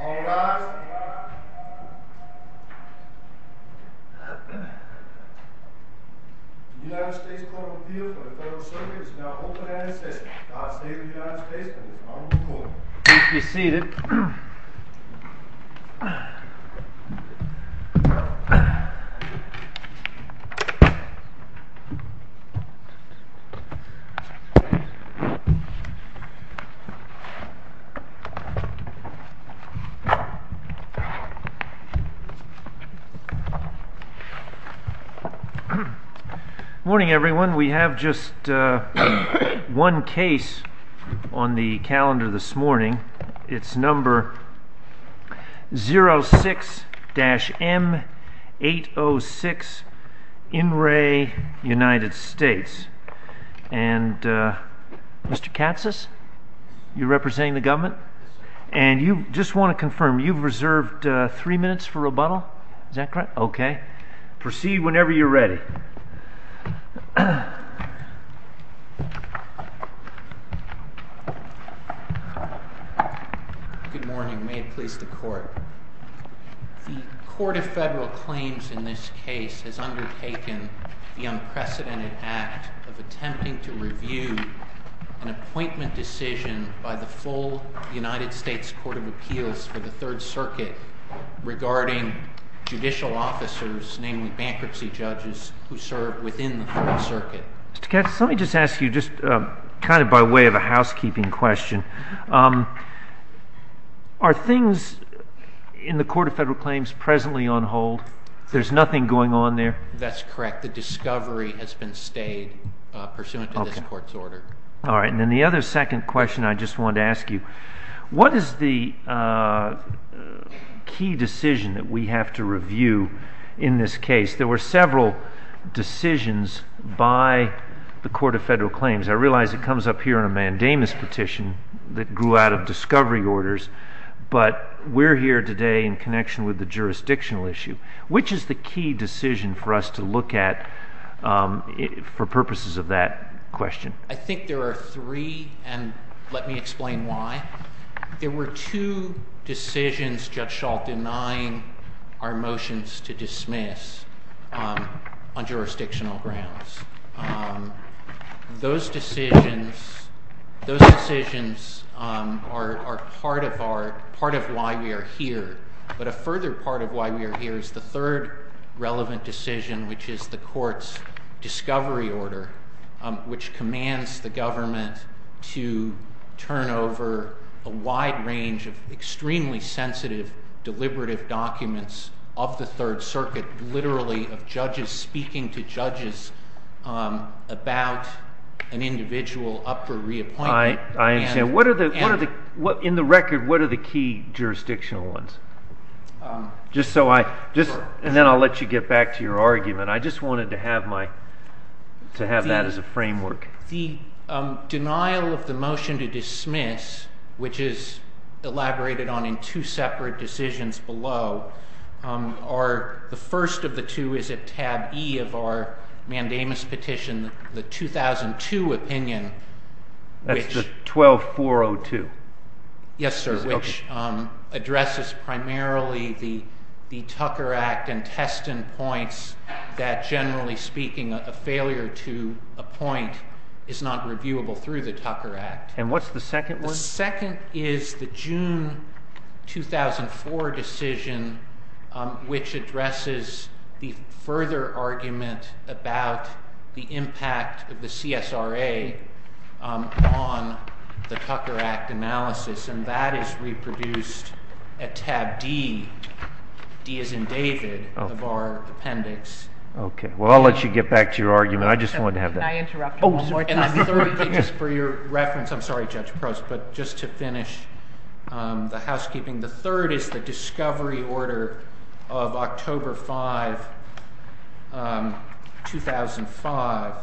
Alarms Alarms United States Corporal Peerdoo marks a high slope of slopes known as Run on Highway 6 Clash with United States Colony Commander... Keep me seated Morning everyone, we have just one case on the calendar this morning It's number 06-M806, In re, United States And Mr. Katsas, you're representing the government? And you just want to confirm, you've reserved three minutes for rebuttal? Is that correct? Okay. Proceed whenever you're ready Good morning, may it please the Court The Court of Federal Claims in this case has undertaken the unprecedented act of attempting to review an appointment decision by the full United States Court of Appeals for the Third Circuit regarding judicial officers, namely bankruptcy judges, who serve within the Third Circuit Mr. Katsas, let me just ask you, just kind of by way of a housekeeping question, are things in the Court of Federal Claims presently on hold? There's nothing going on there? That's correct. The discovery has been stayed pursuant to this Court's order All right, and then the other second question I just wanted to ask you, what is the key decision that we have to review in this case? There were several decisions by the Court of Federal Claims. I realize it comes up here in a mandamus petition that grew out of discovery orders, but we're here today in connection with the jurisdictional issue. Which is the key decision for us to look at for purposes of that question? I think there are three, and let me explain why. There were two decisions, Judge Schall, denying our motions to dismiss on jurisdictional grounds. Those decisions are part of why we are here. But a further part of why we are here is the third relevant decision, which is the Court's discovery order, which commands the government to turn over a wide range of extremely sensitive, deliberative documents of the Third Circuit, literally of judges speaking to judges about an individual up for reappointment. I understand. In the record, what are the key jurisdictional ones? Then I'll let you get back to your argument. I just wanted to have that as a framework. The denial of the motion to dismiss, which is elaborated on in two separate decisions below, the first of the two is at tab E of our mandamus petition, the 2002 opinion. That's the 12402? Yes, sir, which addresses primarily the Tucker Act and Teston points that, generally speaking, a failure to appoint is not reviewable through the Tucker Act. And what's the second one? The second is the June 2004 decision, which addresses the further argument about the impact of the CSRA on the Tucker Act analysis. And that is reproduced at tab D, D as in David, of our appendix. Okay. Well, I'll let you get back to your argument. I just wanted to have that. For your reference, I'm sorry, Judge Prost, but just to finish the housekeeping, the third is the discovery order of October 5, 2005,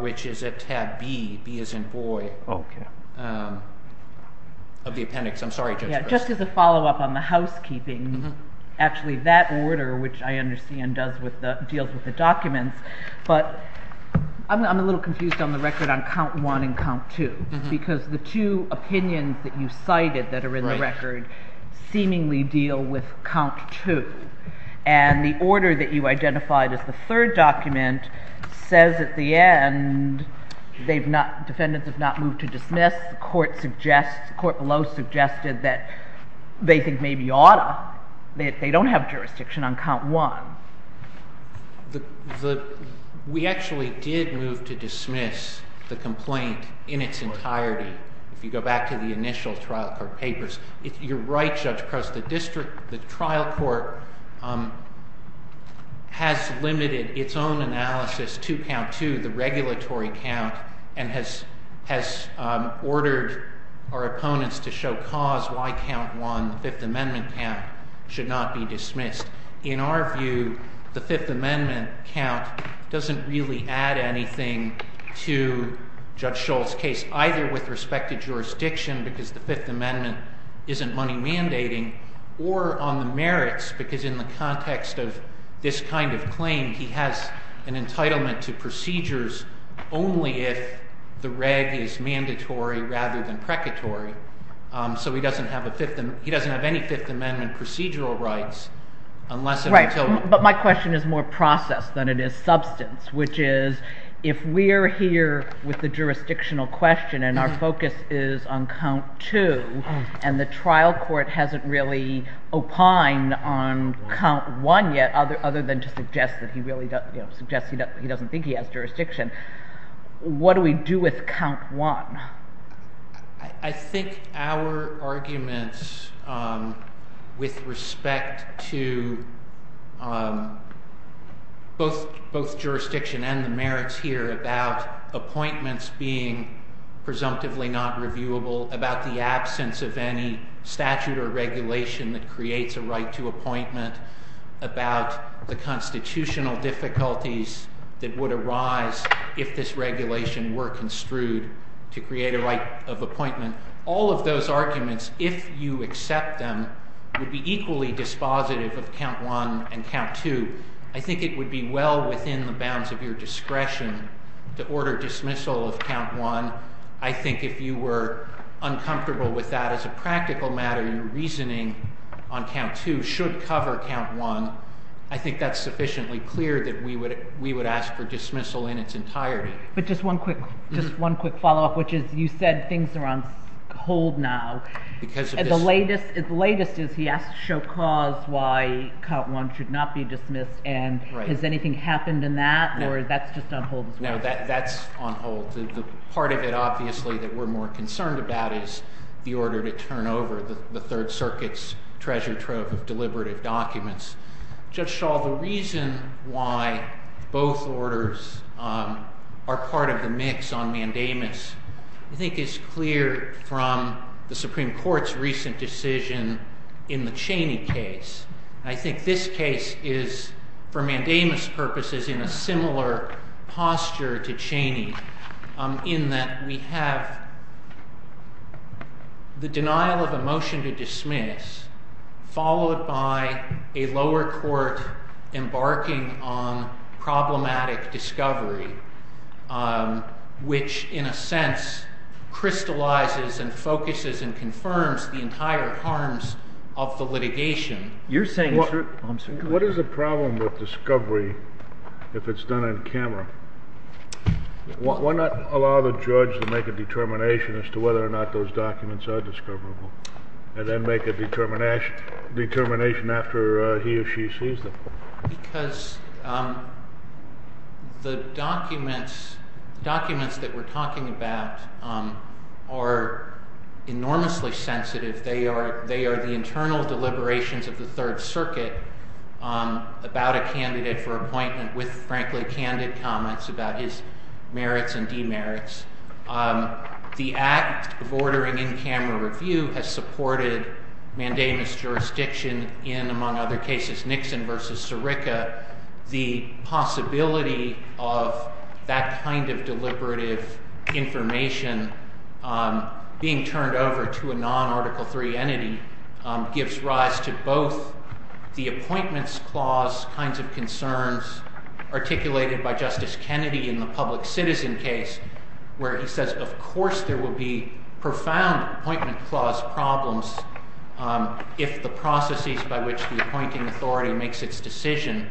which is at tab B, B as in Boy, of the appendix. I'm sorry, Judge Prost. Just as a follow-up on the housekeeping, actually that order, which I understand deals with the documents, but I'm a little confused on the record on count one and count two. Because the two opinions that you cited that are in the record seemingly deal with count two. And the order that you identified as the third document says at the end defendants have not moved to dismiss. The court below suggested that they think maybe you ought to. They don't have jurisdiction on count one. We actually did move to dismiss the complaint in its entirety. If you go back to the initial trial court papers, you're right, Judge Prost. The trial court has limited its own analysis to count two, the regulatory count, and has ordered our opponents to show cause why count one, the Fifth Amendment count, should not be dismissed. In our view, the Fifth Amendment count doesn't really add anything to Judge Shull's case, either with respected jurisdiction, because the Fifth Amendment isn't money mandating, or on the merits, because in the context of this kind of claim, he has an entitlement to procedures only if the reg is mandatory rather than precatory. So he doesn't have any Fifth Amendment procedural rights unless and until— But my question is more process than it is substance, which is if we're here with the jurisdictional question and our focus is on count two, and the trial court hasn't really opined on count one yet, other than to suggest that he really doesn't think he has jurisdiction, what do we do with count one? I think our arguments with respect to both jurisdiction and the merits here about appointments being presumptively not reviewable, about the absence of any statute or regulation that creates a right to appointment, about the constitutional difficulties that would arise if this regulation were construed to create a right of appointment, all of those arguments, if you accept them, would be equally dispositive of count one and count two. I think it would be well within the bounds of your discretion to order dismissal of count one. I think if you were uncomfortable with that as a practical matter, your reasoning on count two should cover count one. I think that's sufficiently clear that we would ask for dismissal in its entirety. But just one quick follow-up, which is you said things are on hold now. The latest is he asked to show cause why count one should not be dismissed. Has anything happened in that, or that's just on hold as well? No, that's on hold. The part of it, obviously, that we're more concerned about is the order to turn over the Third Circuit's treasure trove of deliberative documents. Judge Shaw, the reason why both orders are part of the mix on mandamus I think is clear from the Supreme Court's recent decision in the Cheney case. I think this case is, for mandamus purposes, in a similar posture to Cheney in that we have the denial of a motion to dismiss followed by a lower court embarking on problematic discovery, which in a sense crystallizes and focuses and confirms the entire harms of the litigation. What is the problem with discovery if it's done on camera? Why not allow the judge to make a determination as to whether or not those documents are discoverable and then make a determination after he or she sees them? Because the documents that we're talking about are enormously sensitive. They are the internal deliberations of the Third Circuit about a candidate for appointment with, frankly, candid comments about his merits and demerits. The act of ordering in-camera review has supported mandamus jurisdiction in, among other cases, Nixon v. Sirica. The possibility of that kind of deliberative information being turned over to a non-Article III entity gives rise to both the appointments clause kinds of concerns articulated by Justice Kennedy in the public citizen case where he says, of course there will be profound appointment clause problems if the processes by which the appointing authority makes its decision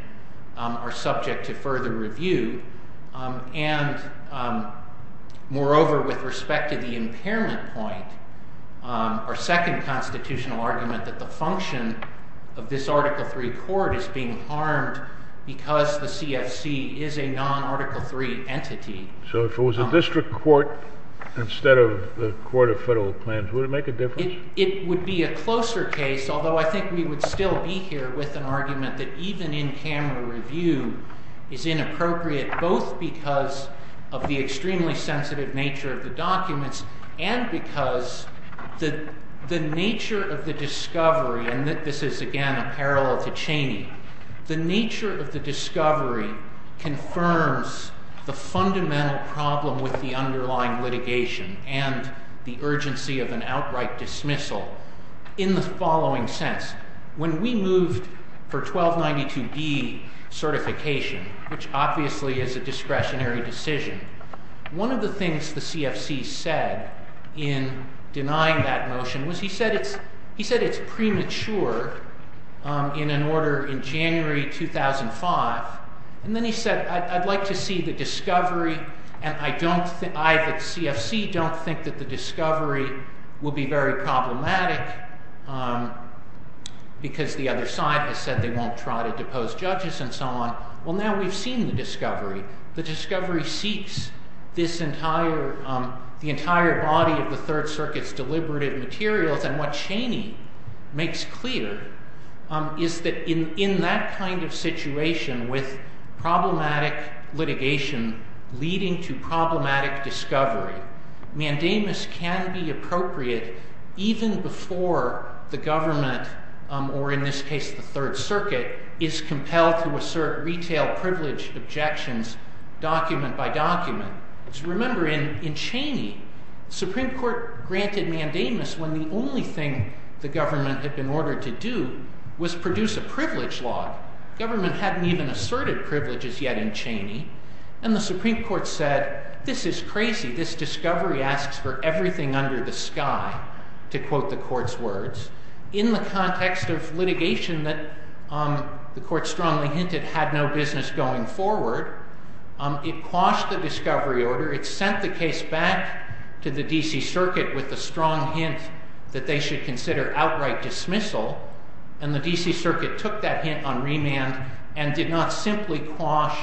are subject to further review. And moreover, with respect to the impairment point, our second constitutional argument that the function of this Article III court is being harmed because the CFC is a non-Article III entity. So if it was a district court instead of the court of federal plans, would it make a difference? It would be a closer case, although I think we would still be here with an argument that even in-camera review is inappropriate both because of the extremely sensitive nature of the documents and because the nature of the discovery, and this is again a parallel to Cheney, the nature of the discovery confirms the fundamental problem with the underlying litigation and the urgency of an outright dismissal in the following sense. When we moved for 1292B certification, which obviously is a discretionary decision, one of the things the CFC said in denying that motion was he said it's premature in an order in January 2005, and then he said I'd like to see the discovery and I at CFC don't think that the discovery will be very problematic because the other side has said they won't try to depose judges and so on. Well now we've seen the discovery. The discovery seeks the entire body of the Third Circuit's deliberative materials and what Cheney makes clear is that in that kind of situation with problematic litigation leading to problematic discovery, mandamus can be appropriate even before the government or in this case the Third Circuit is compelled to assert retail privilege objections document by document. Remember in Cheney, Supreme Court granted mandamus when the only thing the government had been ordered to do was produce a privilege law. Government hadn't even asserted privileges yet in Cheney and the Supreme Court said this is crazy, this discovery asks for everything under the sky, to quote the court's words. In the context of litigation that the court strongly hinted had no business going forward, it quashed the discovery order, it sent the case back to the D.C. Circuit with a strong hint that they should consider outright dismissal and the D.C. Circuit took that hint on remand and did not simply quash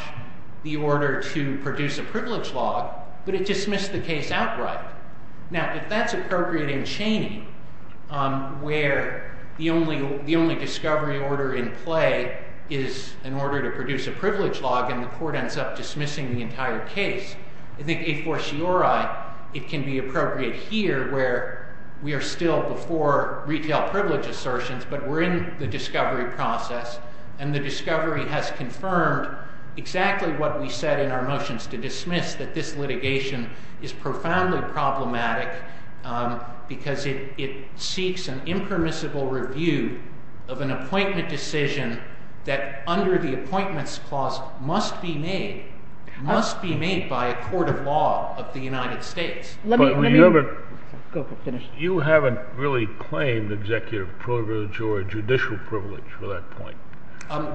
the order to produce a privilege law, but it dismissed the case outright. Now if that's appropriate in Cheney where the only discovery order in play is in order to produce a privilege law and the court ends up dismissing the entire case, I think a fortiori it can be appropriate here where we are still before retail privilege assertions but we're in the discovery process and the discovery has confirmed exactly what we said in our motions to dismiss, that this litigation is profoundly problematic because it seeks an impermissible review of an appointment decision that under the appointments clause must be made, must be made by a court of law of the United States. But you haven't really claimed executive privilege or judicial privilege for that point.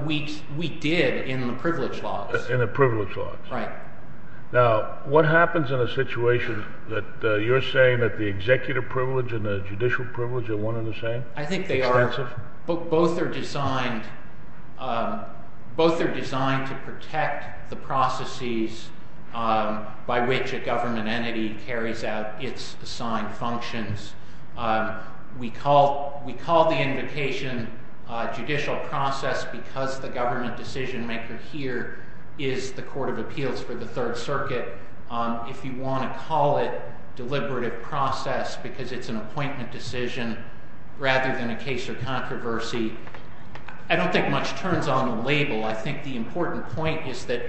We did in the privilege laws. In the privilege laws. Right. Now what happens in a situation that you're saying that the executive privilege and the judicial privilege are one and the same? I think they are. Both are designed, both are designed to protect the processes by which a government entity carries out its assigned functions. We call the invocation judicial process because the government decision maker here is the court of appeals for the third circuit. If you want to call it deliberative process because it's an appointment decision rather than a case of controversy, I don't think much turns on the label. I think the important point is that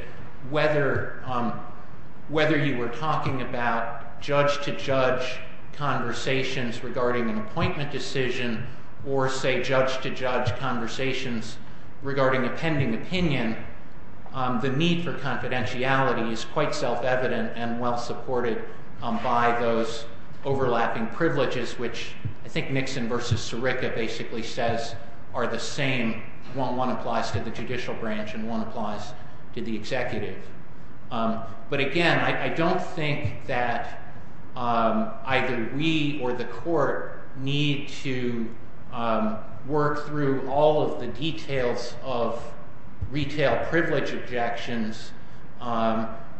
whether you were talking about judge to judge conversations regarding an appointment decision or say judge to judge conversations regarding a pending opinion, the need for confidentiality is quite self-evident and well supported by those overlapping privileges which I think Nixon versus Sirica basically says are the same. One applies to the judicial branch and one applies to the executive. But again, I don't think that either we or the court need to work through all of the details of retail privilege objections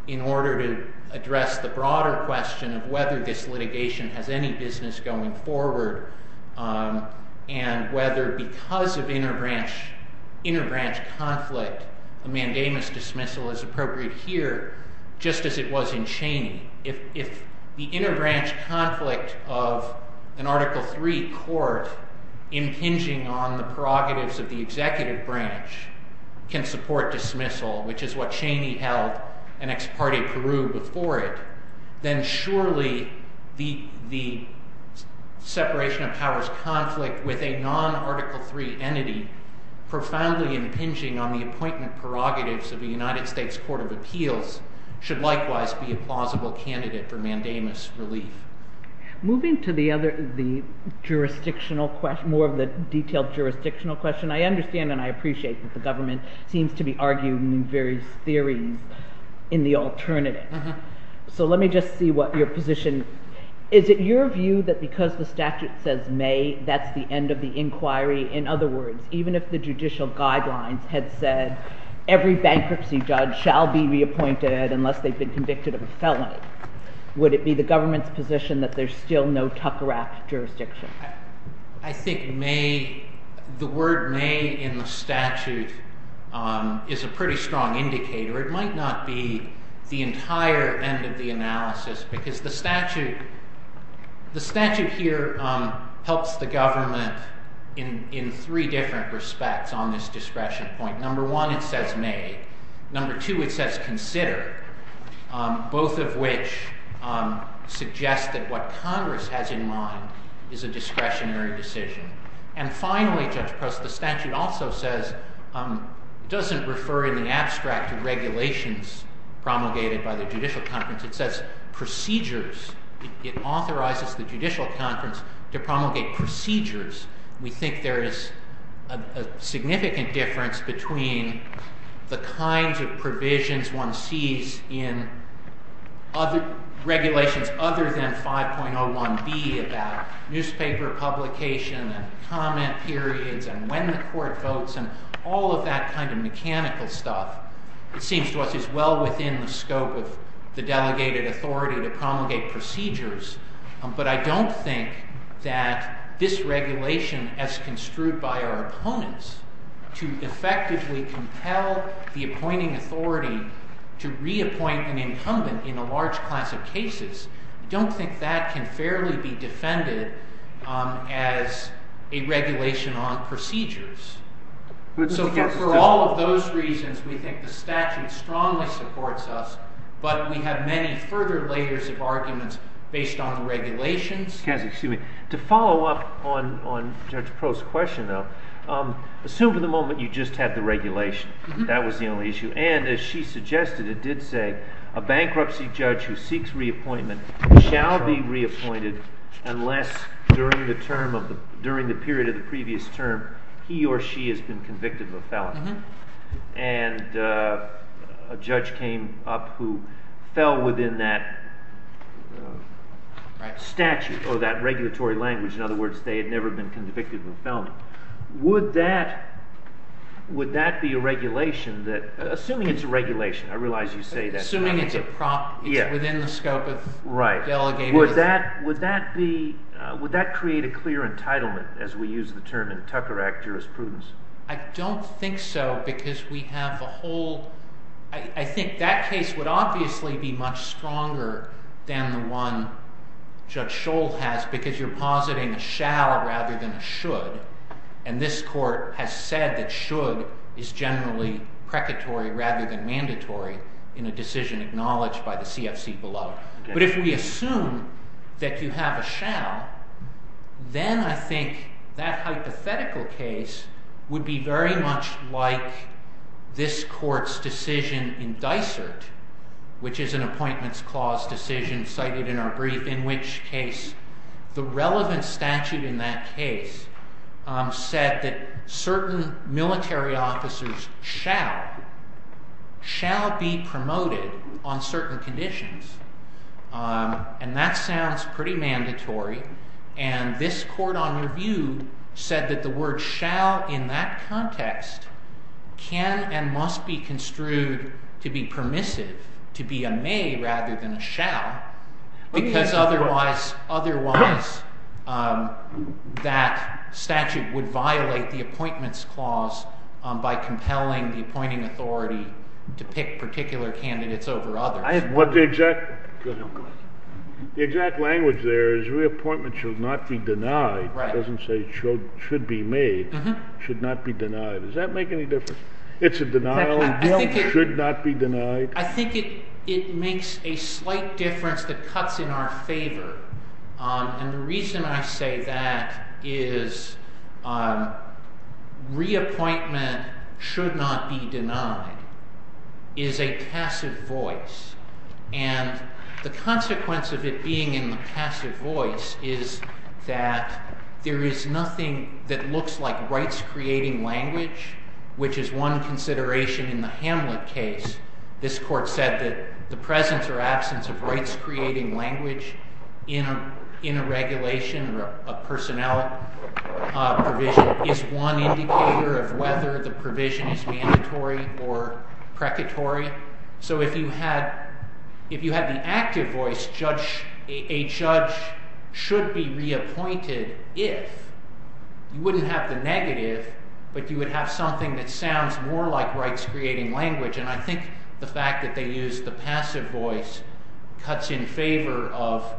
in order to address the broader question of whether this litigation has any business going forward. And whether because of inner branch conflict, a mandamus dismissal is appropriate here just as it was in Cheney. If the inner branch conflict of an Article III court impinging on the prerogatives of the executive branch can support dismissal, which is what Cheney held and ex parte Peru before it, then surely the separation of powers conflict with a non-Article III entity profoundly impinging on the appointment prerogatives of the United States Court of Appeals should likewise be a plausible candidate for mandamus relief. Moving to the other, the jurisdictional question, more of the detailed jurisdictional question, I understand and I appreciate that the government seems to be arguing various theories in the alternative. So let me just see what your position, is it your view that because the statute says may, that's the end of the inquiry? In other words, even if the judicial guidelines had said every bankruptcy judge shall be reappointed unless they've been convicted of a felony, would it be the government's position that there's still no tucker act jurisdiction? I think may, the word may in the statute is a pretty strong indicator. It might not be the entire end of the analysis because the statute here helps the government in three different respects on this discretion point. Number one, it says may. Number two, it says consider, both of which suggest that what Congress has in mind is a discretionary decision. And finally, Judge Prost, the statute also says, doesn't refer in the abstract to regulations promulgated by the judicial conference, it says procedures. It authorizes the judicial conference to promulgate procedures. We think there is a significant difference between the kinds of provisions one sees in regulations other than 5.01b about newspaper publication and comment periods and when the court votes and all of that kind of mechanical stuff. It seems to us it's well within the scope of the delegated authority to promulgate procedures. But I don't think that this regulation as construed by our opponents to effectively compel the appointing authority to reappoint an incumbent in a large class of cases, I don't think that can fairly be defended as a regulation on procedures. So for all of those reasons, we think the statute strongly supports us, but we have many further layers of arguments based on the regulations. Excuse me. To follow up on Judge Prost's question, though, assume for the moment you just had the regulation. That was the only issue. And as she suggested, it did say a bankruptcy judge who seeks reappointment shall be reappointed unless during the period of the previous term he or she has been convicted of a felony. And a judge came up who fell within that statute or that regulatory language. In other words, they had never been convicted of a felony. Would that be a regulation that, assuming it's a regulation, I realize you say that. Assuming it's within the scope of delegated authority. Would that create a clear entitlement as we use the term in Tucker Act jurisprudence? I don't think so because we have a whole—I think that case would obviously be much stronger than the one Judge Scholl has because you're positing a shall rather than a should. And this court has said that should is generally precatory rather than mandatory in a decision acknowledged by the CFC below. But if we assume that you have a shall, then I think that hypothetical case would be very much like this court's decision in Dysart, which is an appointments clause decision cited in our brief, in which case the relevant statute in that case said that certain military officers shall be promoted on certain conditions. And that sounds pretty mandatory. And this court, on review, said that the word shall in that context can and must be construed to be permissive, to be a may rather than a shall, because otherwise that statute would violate the appointments clause by compelling the appointing authority to pick particular candidates over others. The exact language there is reappointment should not be denied. It doesn't say should be made. Should not be denied. Does that make any difference? Should not be denied? I think it makes a slight difference that cuts in our favor. And the reason I say that is reappointment should not be denied is a passive voice. And the consequence of it being in the passive voice is that there is nothing that looks like rights-creating language, which is one consideration in the Hamlet case. This court said that the presence or absence of rights-creating language in a regulation or a personnel provision is one indicator of whether the provision is mandatory or precatory. So if you had the active voice, a judge should be reappointed if. You wouldn't have the negative, but you would have something that sounds more like rights-creating language. And I think the fact that they used the passive voice cuts in favor of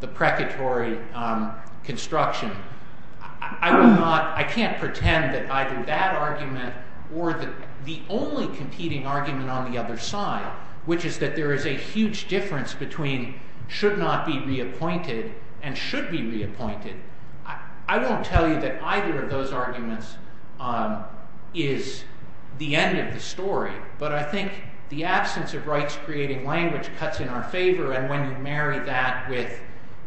the precatory construction. I can't pretend that either that argument or the only competing argument on the other side, which is that there is a huge difference between should not be reappointed and should be reappointed. I won't tell you that either of those arguments is the end of the story. But I think the absence of rights-creating language cuts in our favor. And when you marry that with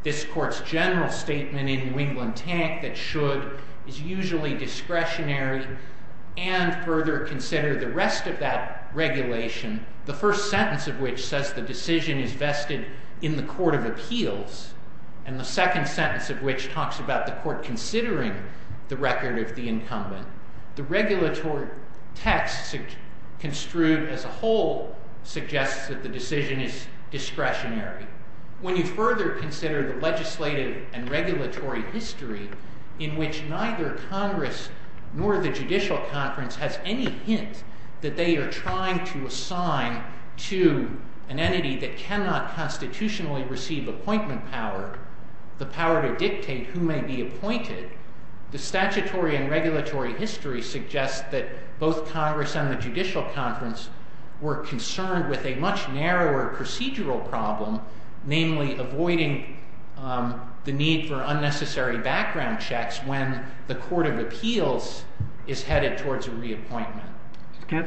this court's general statement in Wing-Lin Tank that should is usually discretionary and further consider the rest of that regulation. The first sentence of which says the decision is vested in the court of appeals. And the second sentence of which talks about the court considering the record of the incumbent. The regulatory text construed as a whole suggests that the decision is discretionary. When you further consider the legislative and regulatory history in which neither Congress nor the Judicial Conference has any hint that they are trying to assign to an entity that cannot constitutionally receive appointment power. The power to dictate who may be appointed. The statutory and regulatory history suggests that both Congress and the Judicial Conference were concerned with a much narrower procedural problem. Namely, avoiding the need for unnecessary background checks when the court of appeals is headed towards a reappointment.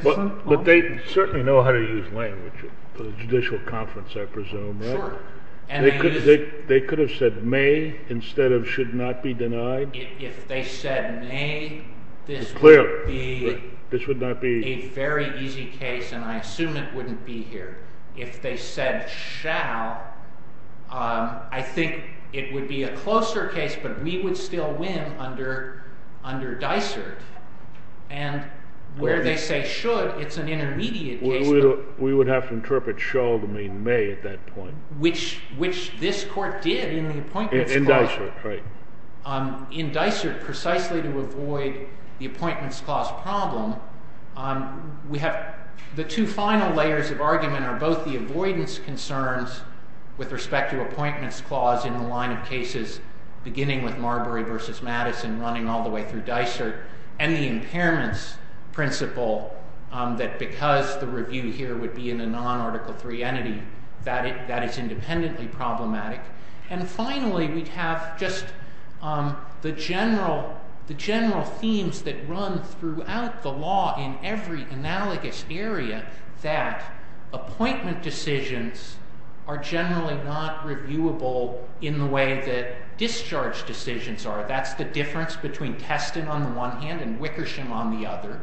But they certainly know how to use language for the Judicial Conference, I presume. Sure. They could have said may instead of should not be denied. If they said may, this would be a very easy case and I assume it wouldn't be here. If they said shall, I think it would be a closer case but we would still win under Dysart. And where they say should, it's an intermediate case. We would have to interpret shall to mean may at that point. Which this court did in the Appointments Clause. In Dysart, right. In Dysart, precisely to avoid the Appointments Clause problem, the two final layers of argument are both the avoidance concerns with respect to Appointments Clause in the line of cases beginning with Marbury v. Madison running all the way through Dysart. And the impairments principle that because the review here would be in a non-Article III entity, that is independently problematic. And finally, we'd have just the general themes that run throughout the law in every analogous area that appointment decisions are generally not reviewable in the way that discharge decisions are. That's the difference between Teston on the one hand and Wickersham on the other.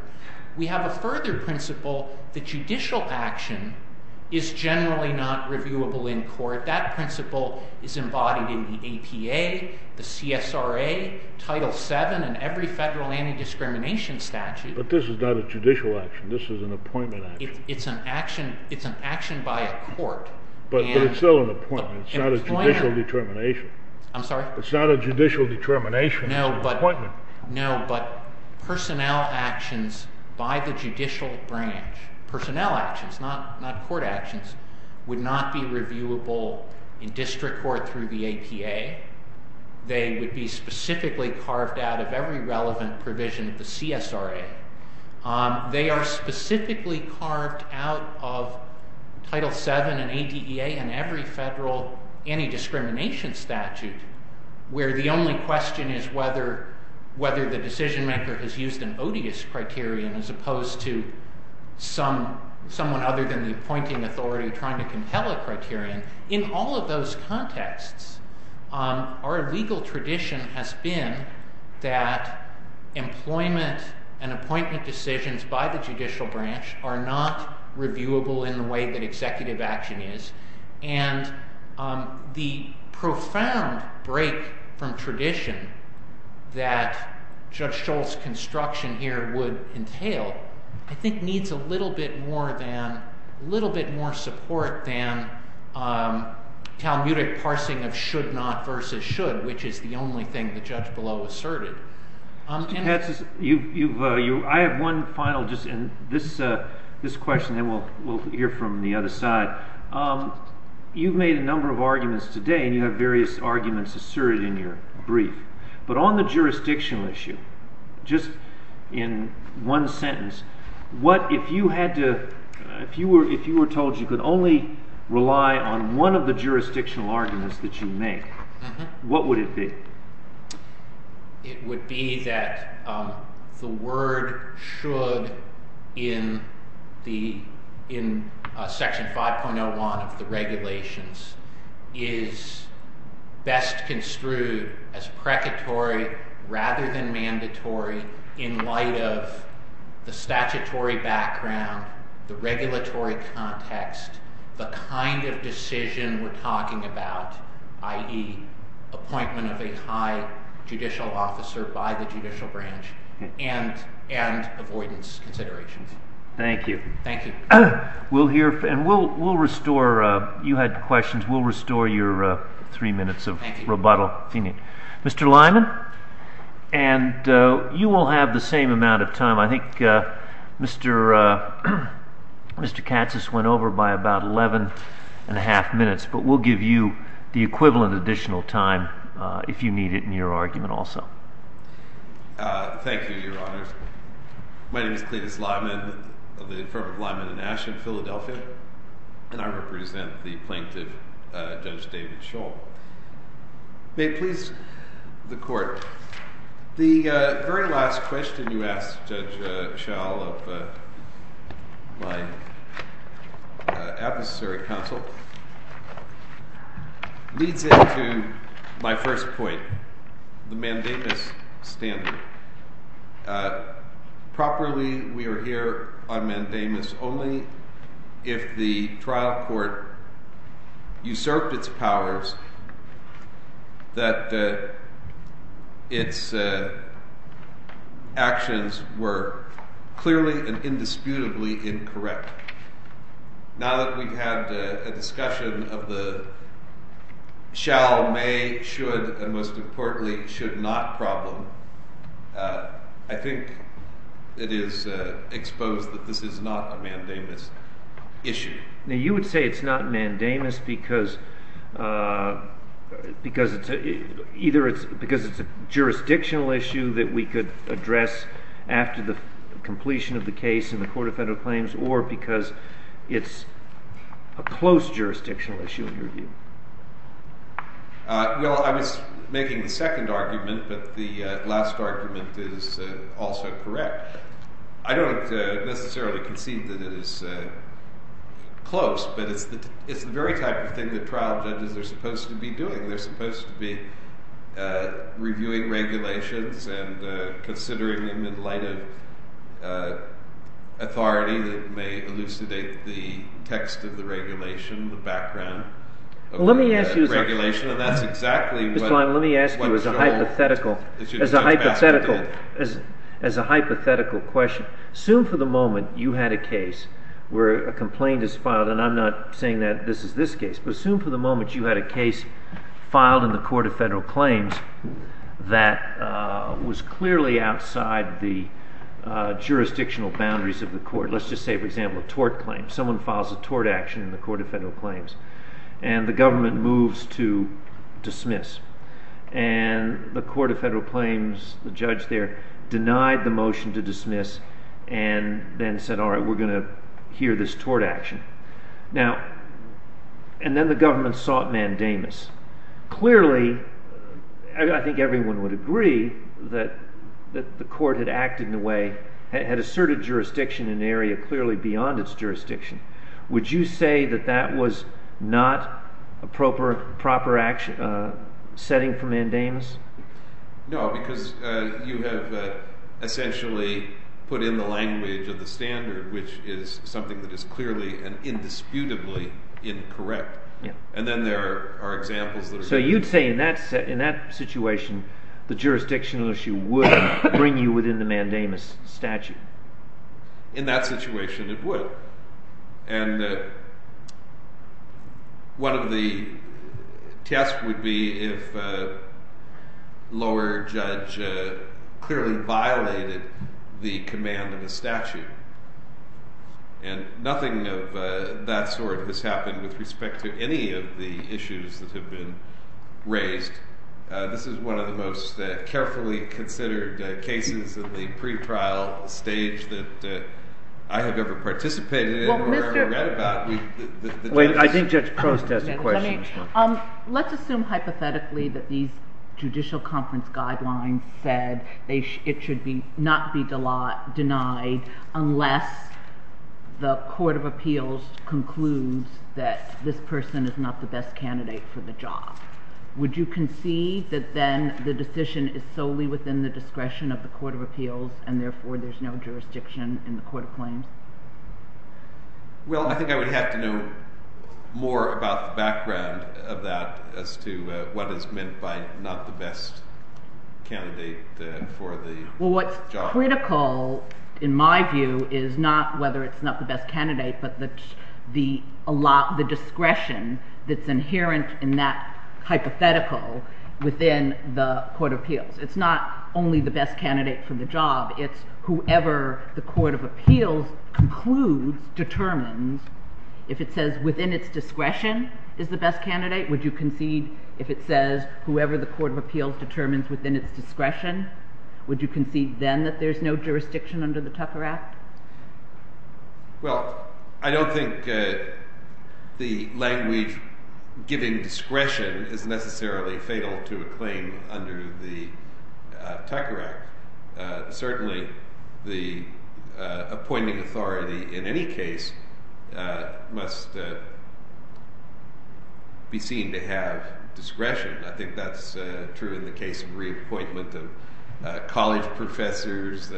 We have a further principle that judicial action is generally not reviewable in court. That principle is embodied in the APA, the CSRA, Title VII, and every federal anti-discrimination statute. But this is not a judicial action. This is an appointment action. It's an action by a court. But it's still an appointment. It's not a judicial determination. I'm sorry? It's not a judicial determination. No, but personnel actions by the judicial branch, personnel actions, not court actions, would not be reviewable in district court through the APA. They would be specifically carved out of every relevant provision of the CSRA. They are specifically carved out of Title VII and ADEA and every federal anti-discrimination statute, where the only question is whether the decision maker has used an odious criterion as opposed to someone other than the appointing authority trying to compel a criterion. In all of those contexts, our legal tradition has been that employment and appointment decisions by the judicial branch are not reviewable in the way that executive action is. And the profound break from tradition that Judge Schultz's construction here would entail, I think, needs a little bit more support than Talmudic parsing of should not versus should, which is the only thing the judge below asserted. Mr. Katz, I have one final question, and then we'll hear from the other side. You've made a number of arguments today, and you have various arguments asserted in your brief. But on the jurisdictional issue, just in one sentence, if you were told you could only rely on one of the jurisdictional arguments that you make, what would it be? It would be that the word should in Section 5.01 of the regulations is best construed as precatory rather than mandatory in light of the statutory background, the regulatory context, the kind of decision we're talking about, i.e., appointment of a high judicial officer by the judicial branch, and avoidance considerations. Thank you. Thank you. We'll hear, and we'll restore, you had questions, we'll restore your three minutes of rebuttal. Thank you. Mr. Lyman, and you will have the same amount of time. I think Mr. Katz has went over by about 11 and a half minutes, but we'll give you the equivalent additional time if you need it in your argument also. Thank you, Your Honors. My name is Clevis Lyman of the Infirmary of Lyman in Ashton, Philadelphia, and I represent the plaintiff, Judge David Shull. May it please the Court. The very last question you asked, Judge Shull, of my adversary counsel leads into my first point, the mandamus standard. Properly, we are here on mandamus only if the trial court usurped its powers that its actions were clearly and indisputably incorrect. Now that we've had a discussion of the shall, may, should, and most importantly, should not problem, I think it is exposed that this is not a mandamus issue. Now you would say it's not mandamus because it's a jurisdictional issue that we could address after the completion of the case in the Court of Federal Claims or because it's a close jurisdictional issue in your view? Well, I was making the second argument, but the last argument is also correct. I don't necessarily concede that it is close, but it's the very type of thing that trial judges are supposed to be doing. They're supposed to be reviewing regulations and considering them in light of authority that may elucidate the text of the regulation, the background of the regulation. Let me ask you as a hypothetical question. Assume for the moment you had a case where a complaint is filed, and I'm not saying that this is this case. But assume for the moment you had a case filed in the Court of Federal Claims that was clearly outside the jurisdictional boundaries of the court. Let's just say, for example, a tort claim. Someone files a tort action in the Court of Federal Claims, and the government moves to dismiss. And the Court of Federal Claims, the judge there, denied the motion to dismiss and then said, all right, we're going to hear this tort action. And then the government sought mandamus. Clearly, I think everyone would agree that the court had acted in a way, had asserted jurisdiction in an area clearly beyond its jurisdiction. Would you say that that was not a proper setting for mandamus? No, because you have essentially put in the language of the standard, which is something that is clearly and indisputably incorrect. And then there are examples that are – So you'd say in that situation, the jurisdictional issue would bring you within the mandamus statute? In that situation, it would. And one of the tests would be if a lower judge clearly violated the command of the statute. And nothing of that sort has happened with respect to any of the issues that have been raised. This is one of the most carefully considered cases of the pretrial stage that I have ever participated in or ever read about. Wait, I think Judge Prost has a question. Let's assume hypothetically that these judicial conference guidelines said it should not be denied unless the court of appeals concludes that this person is not the best candidate for the job. Would you concede that then the decision is solely within the discretion of the court of appeals and therefore there's no jurisdiction in the court of claims? Well, I think I would have to know more about the background of that as to what is meant by not the best candidate for the job. Well, what's critical in my view is not whether it's not the best candidate, but the discretion that's inherent in that hypothetical within the court of appeals. It's not only the best candidate for the job. It's whoever the court of appeals concludes, determines. If it says within its discretion is the best candidate, would you concede if it says whoever the court of appeals determines within its discretion, would you concede then that there's no jurisdiction under the Tucker Act? Well, I don't think the language giving discretion is necessarily fatal to a claim under the Tucker Act. Certainly, the appointing authority in any case must be seen to have discretion. I think that's true in the case of reappointment of college professors,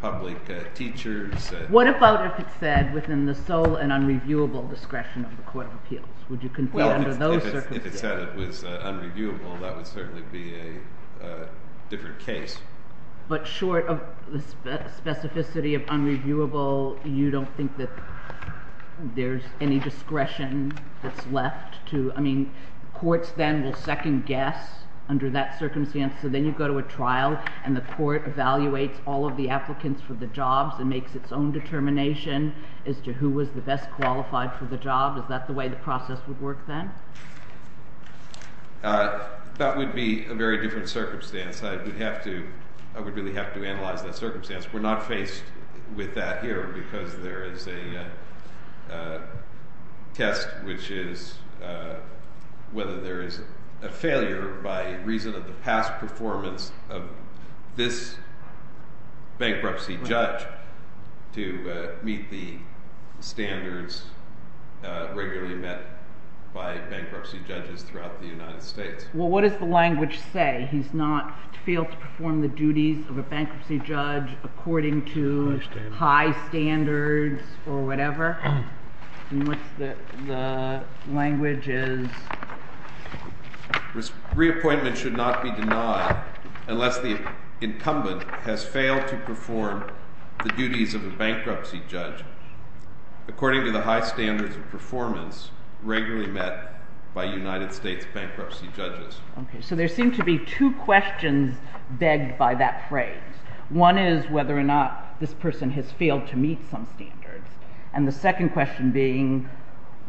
public teachers. What about if it said within the sole and unreviewable discretion of the court of appeals? Well, if it said it was unreviewable, that would certainly be a different case. But short of the specificity of unreviewable, you don't think that there's any discretion that's left to, I mean, courts then will second guess under that circumstance. So then you go to a trial and the court evaluates all of the applicants for the jobs and makes its own determination as to who was the best qualified for the job. Is that the way the process would work then? That would be a very different circumstance. I would have to – I would really have to analyze that circumstance. We're not faced with that here because there is a test, which is whether there is a failure by reason of the past performance of this bankruptcy judge to meet the standards regularly met by bankruptcy judges throughout the United States. Well, what does the language say? He's not failed to perform the duties of a bankruptcy judge according to high standards or whatever? And what's the language is? Reappointment should not be denied unless the incumbent has failed to perform the duties of a bankruptcy judge according to the high standards of performance regularly met by United States bankruptcy judges. Okay. So there seem to be two questions begged by that phrase. One is whether or not this person has failed to meet some standards. And the second question being,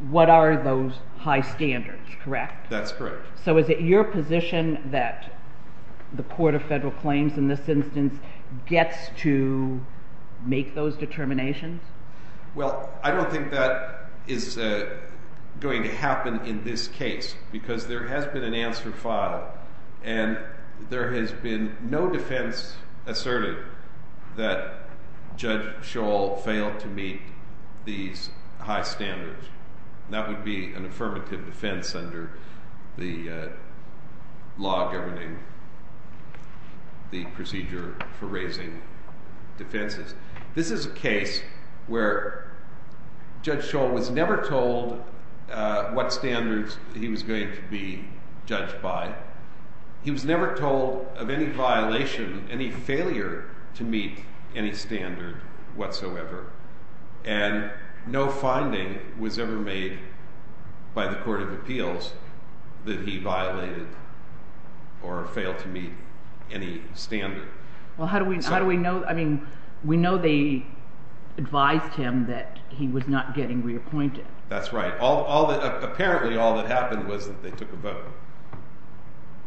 what are those high standards, correct? That's correct. So is it your position that the court of federal claims in this instance gets to make those determinations? Well, I don't think that is going to happen in this case because there has been an answer filed, and there has been no defense asserting that Judge Scholl failed to meet these high standards. That would be an affirmative defense under the law governing the procedure for raising defenses. This is a case where Judge Scholl was never told what standards he was going to be judged by. He was never told of any violation, any failure to meet any standard whatsoever. And no finding was ever made by the court of appeals that he violated or failed to meet any standard. Well, how do we know? I mean, we know they advised him that he was not getting reappointed. That's right. Apparently, all that happened was that they took a vote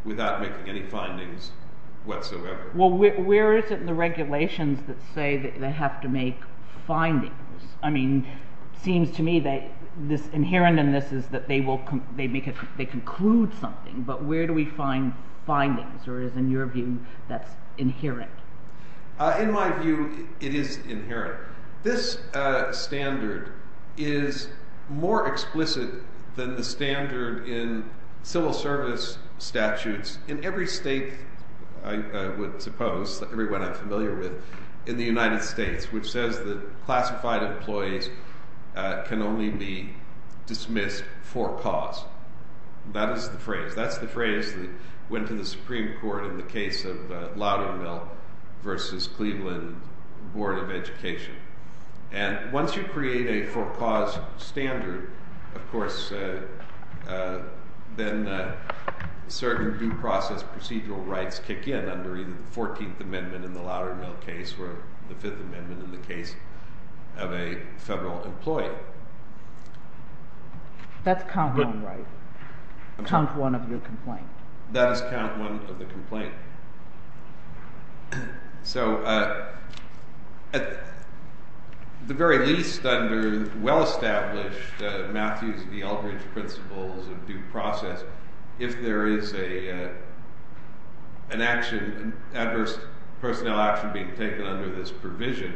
without making any findings whatsoever. Well, where is it in the regulations that say they have to make findings? I mean, it seems to me that this inherent in this is that they conclude something, but where do we find findings, or is it in your view that's inherent? In my view, it is inherent. This standard is more explicit than the standard in civil service statutes in every state, I would suppose, everyone I'm familiar with, in the United States, which says that classified employees can only be dismissed for cause. That is the phrase. That's the phrase that went to the Supreme Court in the case of Loudermill v. Cleveland Board of Education. And once you create a for cause standard, of course, then certain due process procedural rights kick in under either the 14th Amendment in the Loudermill case or the 5th Amendment in the case of a federal employee. That's count one, right? Count one of your complaint. That is count one of the complaint. So at the very least, under well-established Matthews v. Eldridge principles of due process, if there is an adverse personnel action being taken under this provision,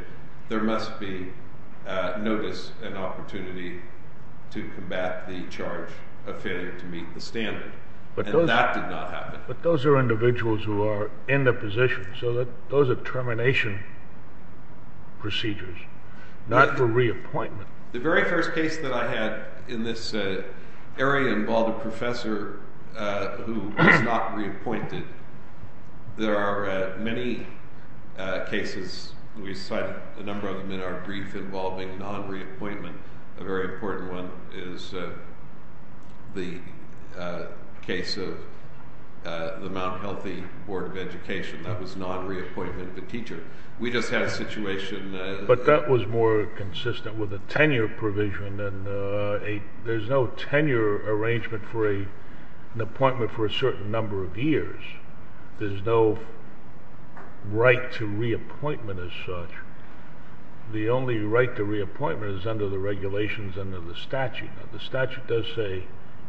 there must be notice and opportunity to combat the charge of failure to meet the standard. And that did not happen. But those are individuals who are in the position. So those are termination procedures, not for reappointment. The very first case that I had in this area involved a professor who was not reappointed. There are many cases. We cited a number of them in our brief involving non-reappointment. A very important one is the case of the Mount Healthy Board of Education. That was non-reappointment of a teacher. We just had a situation— But that was more consistent with a tenure provision. There's no tenure arrangement for an appointment for a certain number of years. There's no right to reappointment as such. The only right to reappointment is under the regulations under the statute. The statute does say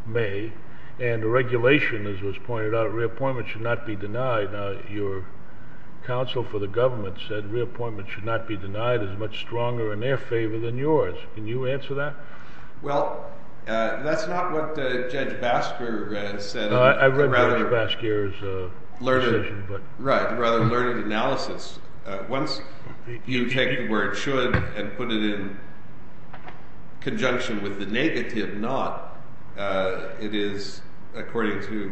may. And the regulation, as was pointed out, reappointment should not be denied. Your counsel for the government said reappointment should not be denied. It's much stronger in their favor than yours. Can you answer that? Well, that's not what Judge Basker said. I read Judge Basker's decision. Right. Rather learned analysis. Once you take the word should and put it in conjunction with the negative not, it is, according to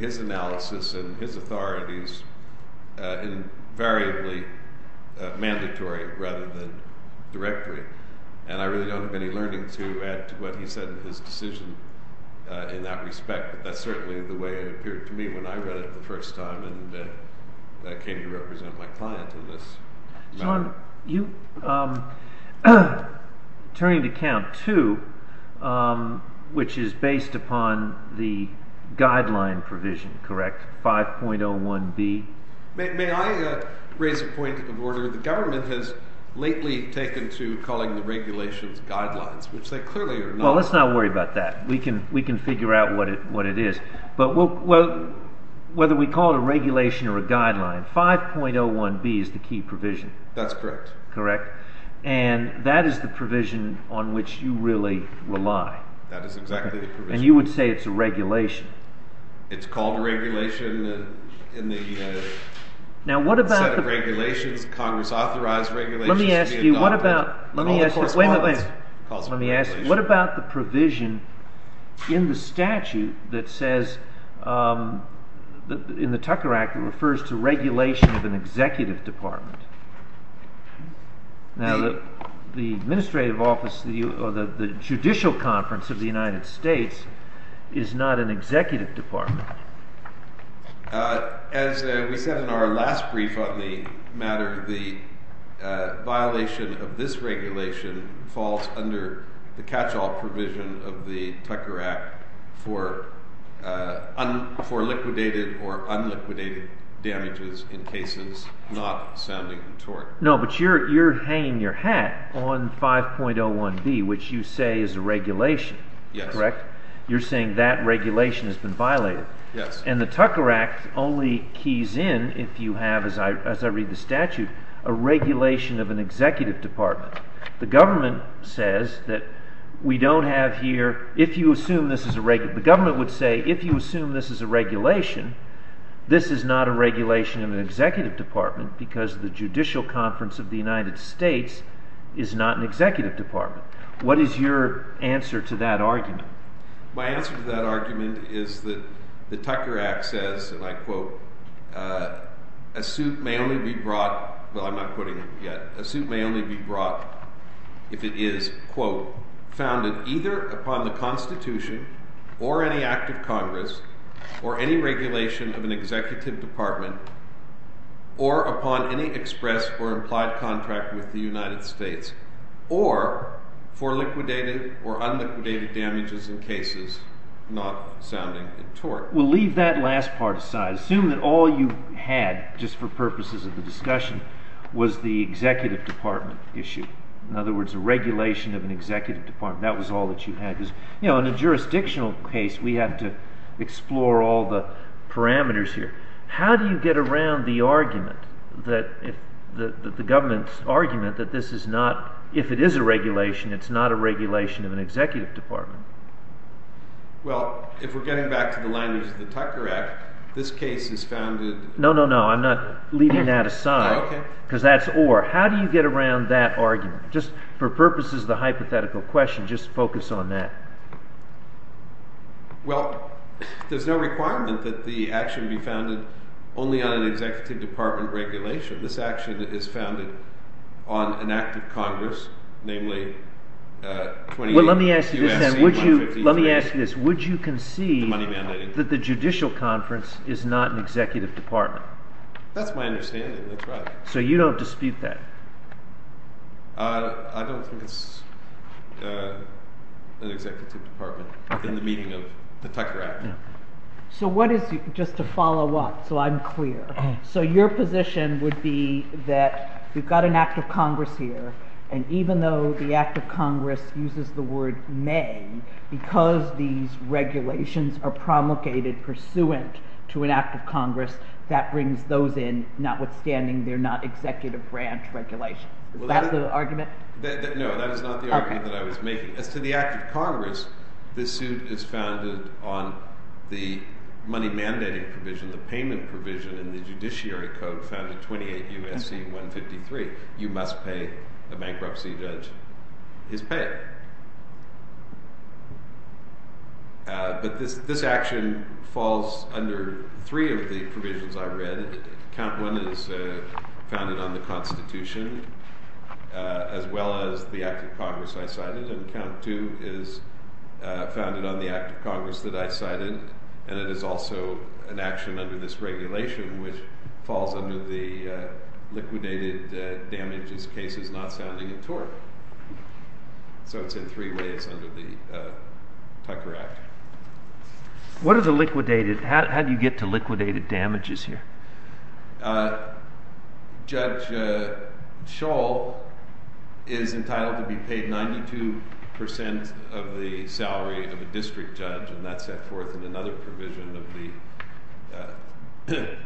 his analysis and his authorities, invariably mandatory rather than directory. And I really don't have any learning to add to what he said in his decision in that respect. But that's certainly the way it appeared to me when I read it the first time. And can you represent my client in this matter? John, you—turning to count two, which is based upon the guideline provision, correct? 5.01B? May I raise a point of order? The government has lately taken to calling the regulations guidelines, which they clearly are not. Well, let's not worry about that. We can figure out what it is. But whether we call it a regulation or a guideline, 5.01B is the key provision. That's correct. Correct? And that is the provision on which you really rely. That is exactly the provision. And you would say it's a regulation. It's called a regulation in the set of regulations, Congress-authorized regulations. Let me ask you, what about the provision in the statute that says, in the Tucker Act, it refers to regulation of an executive department. Now, the administrative office or the judicial conference of the United States is not an executive department. As we said in our last brief on the matter, the violation of this regulation falls under the catch-all provision of the Tucker Act for liquidated or unliquidated damages in cases not sounding in tort. No, but you're hanging your hat on 5.01B, which you say is a regulation. Yes. That's correct. You're saying that regulation has been violated. Yes. And the Tucker Act only keys in, if you have, as I read the statute, a regulation of an executive department. The government says that we don't have here—if you assume this is a—the government would say, if you assume this is a regulation, this is not a regulation of an executive department because the judicial conference of the United States is not an executive department. What is your answer to that argument? My answer to that argument is that the Tucker Act says, and I quote, a suit may only be brought—well, I'm not quoting it yet. Well, leave that last part aside. Assume that all you had, just for purposes of the discussion, was the executive department issue. In other words, a regulation of an executive department. That was all that you had. You know, in a jurisdictional case, we had to explore all the parameters here. How do you get around the argument, the government's argument, that this is not—if it is a regulation, it's not a regulation of an executive department? Well, if we're getting back to the language of the Tucker Act, this case is founded— No, no, no. I'm not leaving that aside because that's or. How do you get around that argument? Just for purposes of the hypothetical question, just focus on that. Well, there's no requirement that the action be founded only on an executive department regulation. This action is founded on an act of Congress, namely— Let me ask you this. Would you concede that the judicial conference is not an executive department? That's my understanding. That's right. So you don't dispute that? I don't think it's an executive department in the meeting of the Tucker Act. So what is—just to follow up so I'm clear. So your position would be that we've got an act of Congress here, and even though the act of Congress uses the word may, because these regulations are promulgated pursuant to an act of Congress, that brings those in, notwithstanding they're not executive branch regulations. Is that the argument? No, that is not the argument that I was making. As to the act of Congress, this suit is founded on the money mandating provision, the payment provision in the Judiciary Code found in 28 U.S.C. 153. You must pay a bankruptcy judge his pay. But this action falls under three of the provisions I read. Count one is founded on the Constitution, as well as the act of Congress I cited, and count two is founded on the act of Congress that I cited, and it is also an action under this regulation, which falls under the liquidated damages cases not sounding in tort. So it's in three ways under the Tucker Act. What are the liquidated—how do you get to liquidated damages here? Judge Scholl is entitled to be paid 92% of the salary of a district judge, and that's set forth in another provision of the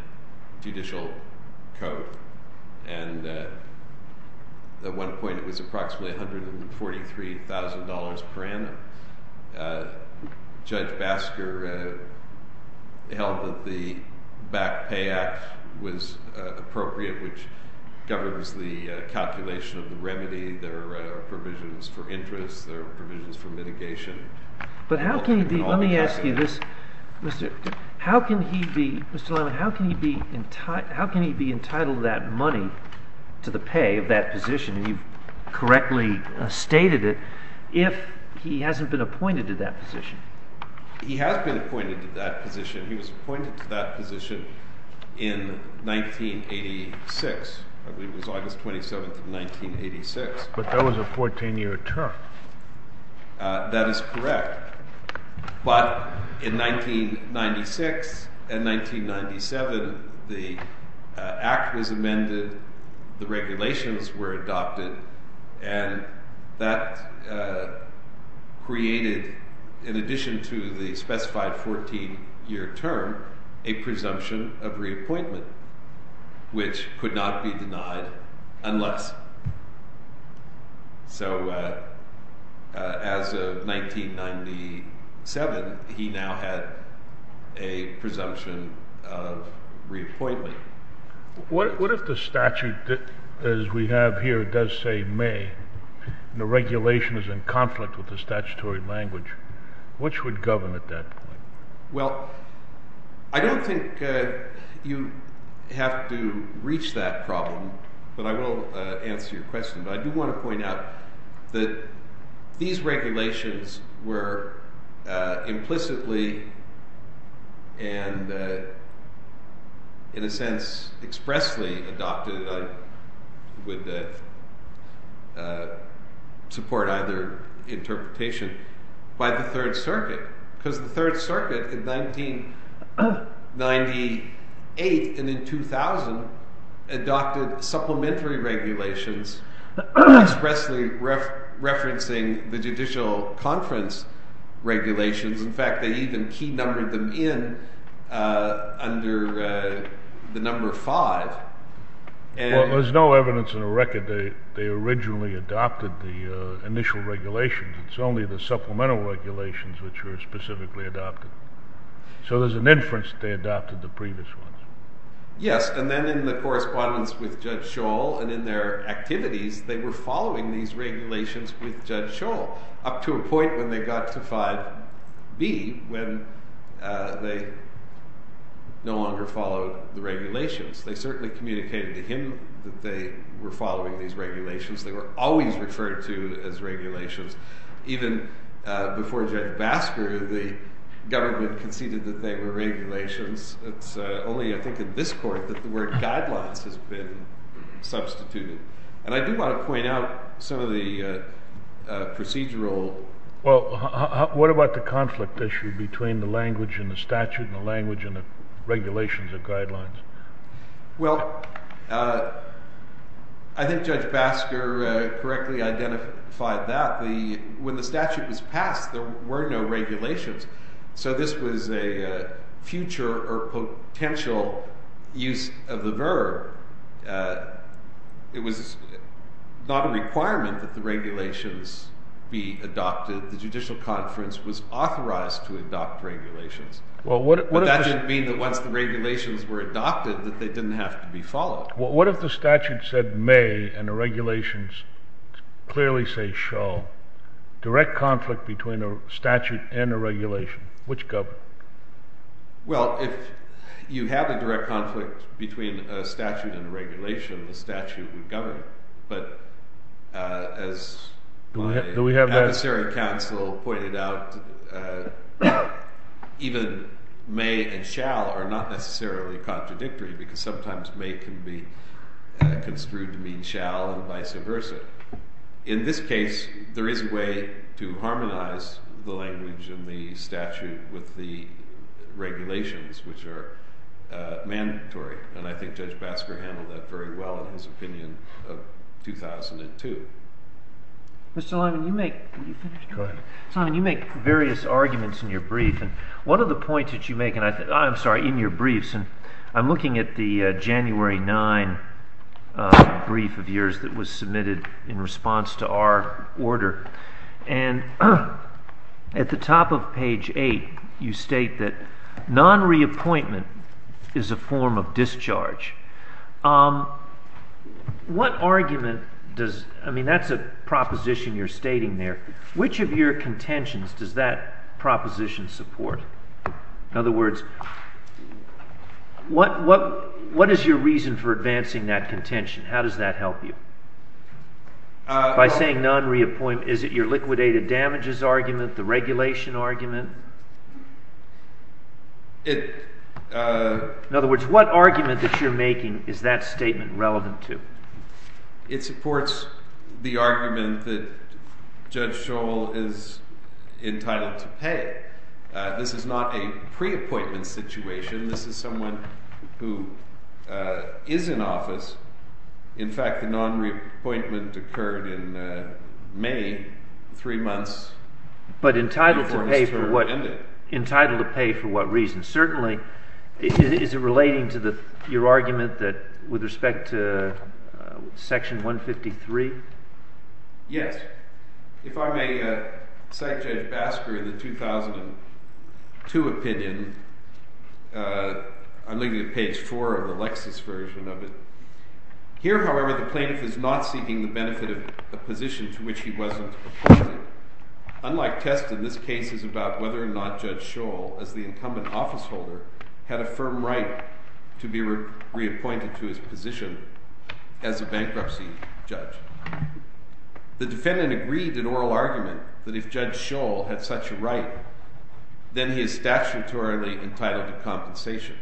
Judicial Code, and at one point it was approximately $143,000 per annum. Judge Basker held that the Back Pay Act was appropriate, which governs the calculation of the remedy. There are provisions for interest. There are provisions for mitigation. But how can he be—let me ask you this. Mr. Lyman, how can he be entitled to that money, to the pay of that position, and you correctly stated it, if he hasn't been appointed to that position? He has been appointed to that position. He was appointed to that position in 1986. I believe it was August 27th of 1986. But that was a 14-year term. That is correct. But in 1996 and 1997, the Act was amended, the regulations were adopted, and that created, in addition to the specified 14-year term, a presumption of reappointment, which could not be denied unless. So as of 1997, he now had a presumption of reappointment. What if the statute, as we have here, does say may, and the regulation is in conflict with the statutory language, which would govern at that point? Well, I don't think you have to reach that problem, but I will answer your question. But I do want to point out that these regulations were implicitly and, in a sense, expressly adopted, and I would support either interpretation, by the Third Circuit. Because the Third Circuit, in 1998 and in 2000, adopted supplementary regulations, expressly referencing the Judicial Conference regulations. In fact, they even key-numbered them in under the number five. Well, there's no evidence in the record that they originally adopted the initial regulations. It's only the supplemental regulations which were specifically adopted. So there's an inference that they adopted the previous ones. Yes, and then in the correspondence with Judge Scholl and in their activities, they were following these regulations with Judge Scholl, up to a point when they got to 5B, when they no longer followed the regulations. They communicated to him that they were following these regulations. They were always referred to as regulations. Even before Judge Basker, the government conceded that they were regulations. It's only, I think, in this court that the word guidelines has been substituted. And I do want to point out some of the procedural... Well, what about the conflict issue between the language and the statute and the language and the regulations and guidelines? Well, I think Judge Basker correctly identified that. When the statute was passed, there were no regulations. So this was a future or potential use of the verb. It was not a requirement that the regulations be adopted. The Judicial Conference was authorized to adopt regulations. But that didn't mean that once the regulations were adopted, that they didn't have to be followed. Well, what if the statute said may and the regulations clearly say shall? Direct conflict between a statute and a regulation. Which governed? Well, if you have a direct conflict between a statute and a regulation, the statute would govern. But as the Adversary Council pointed out, even may and shall are not necessarily contradictory because sometimes may can be construed to mean shall and vice versa. In this case, there is a way to harmonize the language and the statute with the regulations, which are mandatory. And I think Judge Basker handled that very well in his opinion of 2002. Mr. Lyman, you make various arguments in your briefs. I'm looking at the January 9 brief of yours that was submitted in response to our order. And at the top of page 8, you state that non-reappointment is a form of discharge. What argument does, I mean, that's a proposition you're stating there. Which of your contentions does that proposition support? In other words, what is your reason for advancing that contention? How does that help you? By saying non-reappointment, is it your liquidated damages argument, the regulation argument? In other words, what argument that you're making is that statement relevant to? It supports the argument that Judge Scholl is entitled to pay. This is not a pre-appointment situation. This is someone who is in office. In fact, the non-reappointment occurred in May, three months. But entitled to pay for what reason? Certainly, is it relating to your argument with respect to section 153? Yes. If I may cite Judge Basker in the 2002 opinion, I'm looking at page 4 of the Lexis version of it. Here, however, the plaintiff is not seeking the benefit of a position to which he wasn't appointed. Unlike Teston, this case is about whether or not Judge Scholl, as the incumbent officeholder, had a firm right to be reappointed to his position as a bankruptcy judge. The defendant agreed in oral argument that if Judge Scholl had such a right, then he is statutorily entitled to compensation.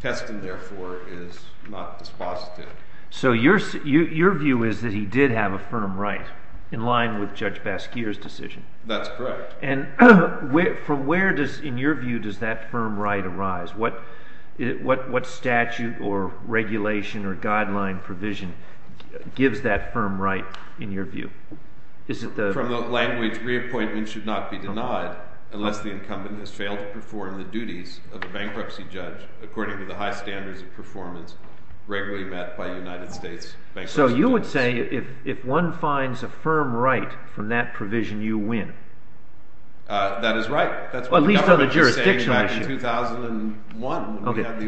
Teston, therefore, is not dispositive. So your view is that he did have a firm right in line with Judge Basker's decision? That's correct. And from where, in your view, does that firm right arise? What statute or regulation or guideline provision gives that firm right, in your view? From the language, reappointment should not be denied unless the incumbent has failed to perform the duties of a bankruptcy judge according to the high standards of performance regularly met by United States bankruptcy judges. So you would say if one finds a firm right from that provision, you win? That is right. At least on the jurisdictional issue.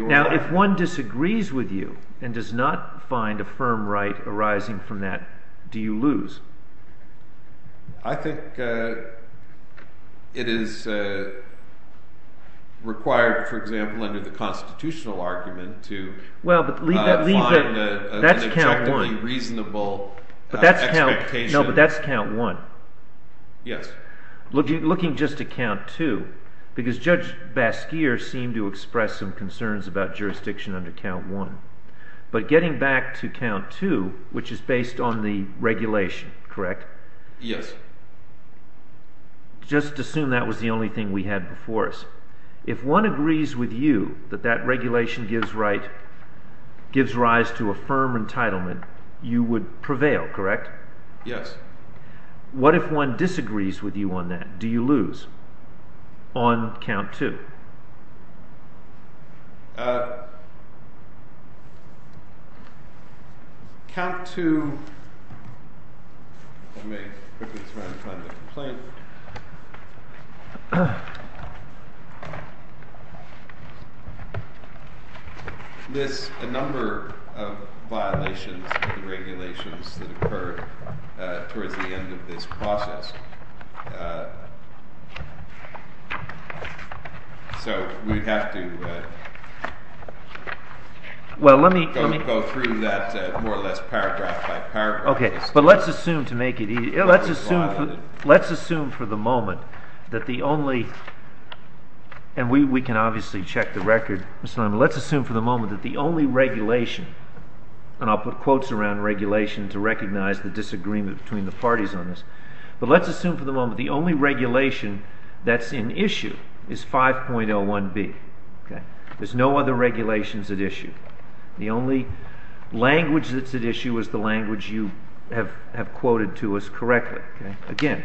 Now if one disagrees with you and does not find a firm right arising from that, do you lose? I think it is required, for example, under the constitutional argument to find an objectively reasonable expectation. No, but that's count one. Yes. Looking just at count two, because Judge Basker seemed to express some concerns about jurisdiction under count one. But getting back to count two, which is based on the regulation, correct? Yes. Just assume that was the only thing we had before us. If one agrees with you that that regulation gives rise to a firm entitlement, you would prevail, correct? Yes. What if one disagrees with you on that? Do you lose on count two? Count two. Let me quickly try to find the complaint. There's a number of violations of the regulations that occurred towards the end of this process. So we'd have to go through that more or less paragraph by paragraph. Okay. But let's assume to make it easier. Let's assume for the moment that the only – and we can obviously check the record, Mr. Liman – let's assume for the moment that the only regulation – and I'll put quotes around regulation to recognize the disagreement between the parties on this – but let's assume for the moment the only regulation that's in issue is 5.01b. There's no other regulations at issue. The only language that's at issue is the language you have quoted to us correctly. Again,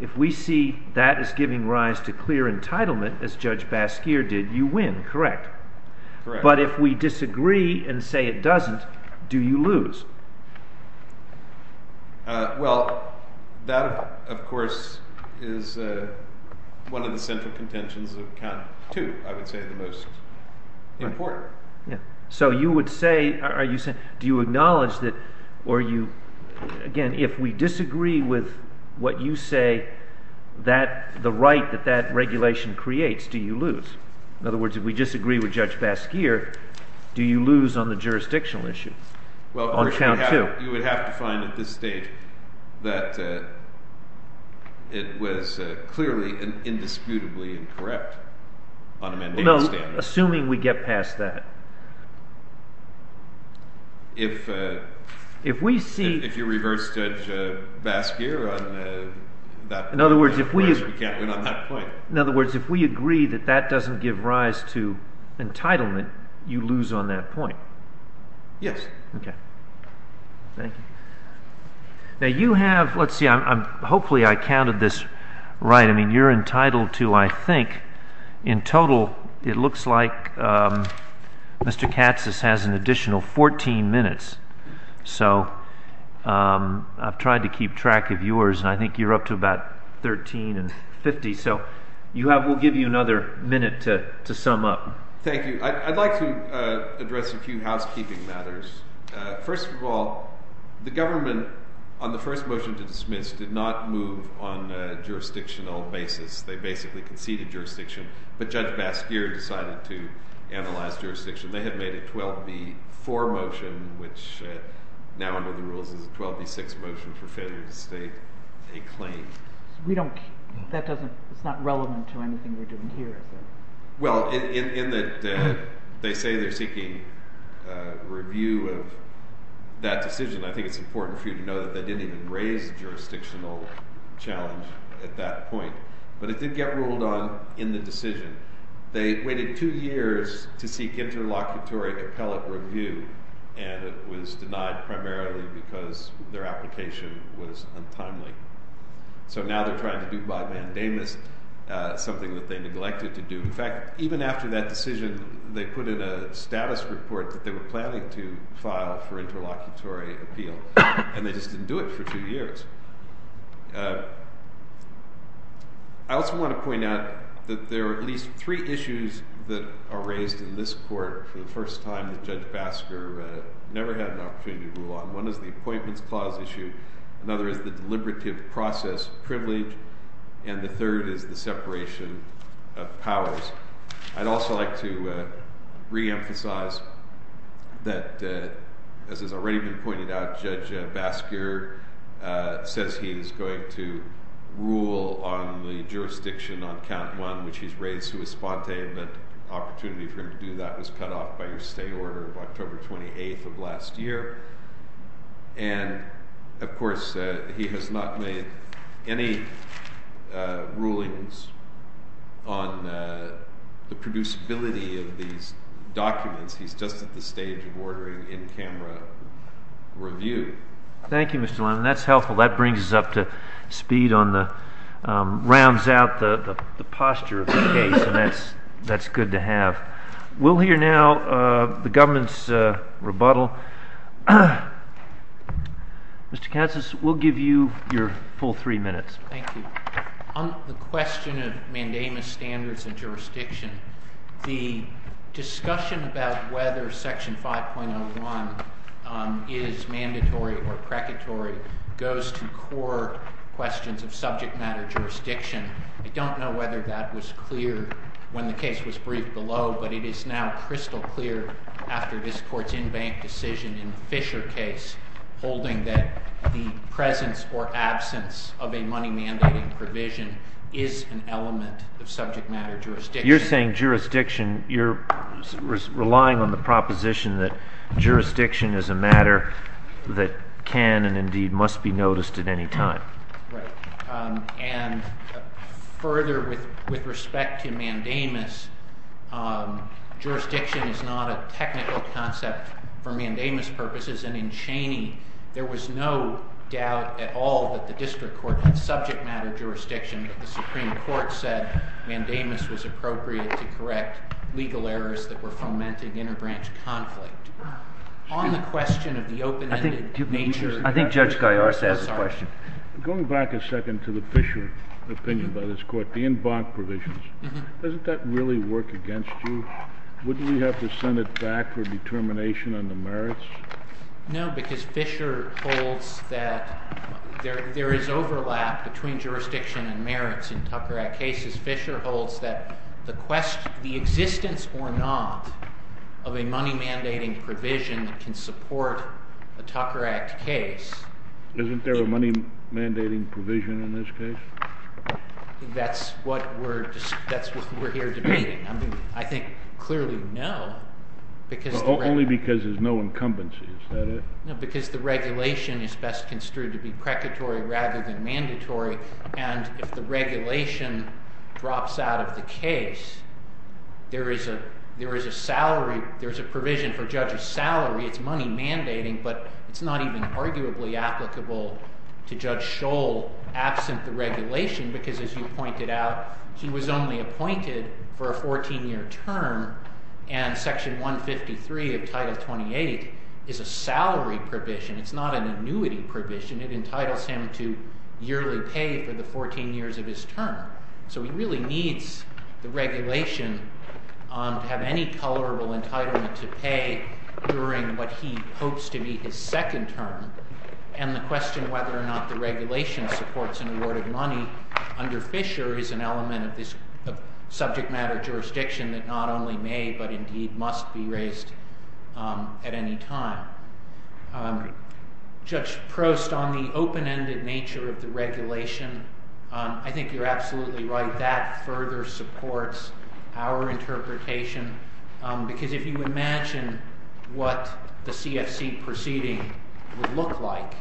if we see that as giving rise to clear entitlement, as Judge Basker did, you win, correct? Correct. But if we disagree and say it doesn't, do you lose? Well, that, of course, is one of the central contentions of count two, I would say the most important. So you would say – do you acknowledge that – or you – again, if we disagree with what you say, the right that that regulation creates, do you lose? In other words, if we disagree with Judge Basker, do you lose on the jurisdictional issue? On count two. Well, you would have to find at this stage that it was clearly and indisputably incorrect on amendable standards. No, assuming we get past that. If you reverse Judge Basker on that point, of course, we can't win on that point. In other words, if we agree that that doesn't give rise to entitlement, you lose on that point. Yes. Okay. Thank you. Now, you have – let's see, hopefully I counted this right. I mean, you're entitled to, I think, in total, it looks like Mr. Katsas has an additional 14 minutes. So I've tried to keep track of yours, and I think you're up to about 13 and 50, so we'll give you another minute to sum up. Thank you. I'd like to address a few housekeeping matters. First of all, the government, on the first motion to dismiss, did not move on a jurisdictional basis. They basically conceded jurisdiction, but Judge Basker decided to analyze jurisdiction. They had made a 12B4 motion, which now under the rules is a 12B6 motion for failure to state a claim. We don't – that doesn't – it's not relevant to anything we're doing here. Well, in that they say they're seeking review of that decision, I think it's important for you to know that they didn't even raise jurisdictional challenge at that point. But it did get ruled on in the decision. They waited two years to seek interlocutory appellate review, and it was denied primarily because their application was untimely. So now they're trying to do by mandamus something that they neglected to do. In fact, even after that decision, they put in a status report that they were planning to file for interlocutory appeal, and they just didn't do it for two years. I also want to point out that there are at least three issues that are raised in this court for the first time that Judge Basker never had an opportunity to rule on. One is the appointments clause issue. Another is the deliberative process privilege. And the third is the separation of powers. I'd also like to reemphasize that, as has already been pointed out, Judge Basker says he is going to rule on the jurisdiction on count one, which he's raised to his sponte, and that opportunity for him to do that was cut off by your state order of October 28th of last year. And, of course, he has not made any rulings on the producibility of these documents. He's just at the stage of ordering in-camera review. Thank you, Mr. Lemon. That's helpful. That brings us up to speed on the—rounds out the posture of the case, and that's good to have. We'll hear now the government's rebuttal. Mr. Katsas, we'll give you your full three minutes. Thank you. On the question of mandamus standards and jurisdiction, the discussion about whether Section 5.01 is mandatory or precatory goes to core questions of subject matter jurisdiction. I don't know whether that was clear when the case was briefed below, but it is now crystal clear after this Court's in-bank decision in the Fisher case, holding that the presence or absence of a money-mandating provision is an element of subject matter jurisdiction. You're saying jurisdiction—you're relying on the proposition that jurisdiction is a matter that can and, indeed, must be noticed at any time. Right. And further, with respect to mandamus, jurisdiction is not a technical concept for mandamus purposes. And in Cheney, there was no doubt at all that the district court had subject matter jurisdiction, but the Supreme Court said mandamus was appropriate to correct legal errors that were fomenting interbranch conflict. On the question of the open-ended nature— I think Judge Gaillard has a question. Going back a second to the Fisher opinion by this Court, the in-bank provisions, doesn't that really work against you? Wouldn't we have to send it back for determination on the merits? No, because Fisher holds that there is overlap between jurisdiction and merits in Tucker Act cases. Fisher holds that the existence or not of a money-mandating provision that can support a Tucker Act case— Isn't there a money-mandating provision in this case? That's what we're here debating. I think clearly, no, because— No, because the regulation is best construed to be precatory rather than mandatory. And if the regulation drops out of the case, there is a provision for Judge's salary. It's money-mandating, but it's not even arguably applicable to Judge Scholl absent the regulation because, as you pointed out, she was only appointed for a 14-year term. And Section 153 of Title 28 is a salary provision. It's not an annuity provision. It entitles him to yearly pay for the 14 years of his term. So he really needs the regulation to have any tolerable entitlement to pay during what he hopes to be his second term. And the question whether or not the regulation supports an award of money under Fisher is an element of this subject-matter jurisdiction that not only may but indeed must be raised at any time. Judge Prost, on the open-ended nature of the regulation, I think you're absolutely right. That further supports our interpretation because if you imagine what the CFC proceeding would look like,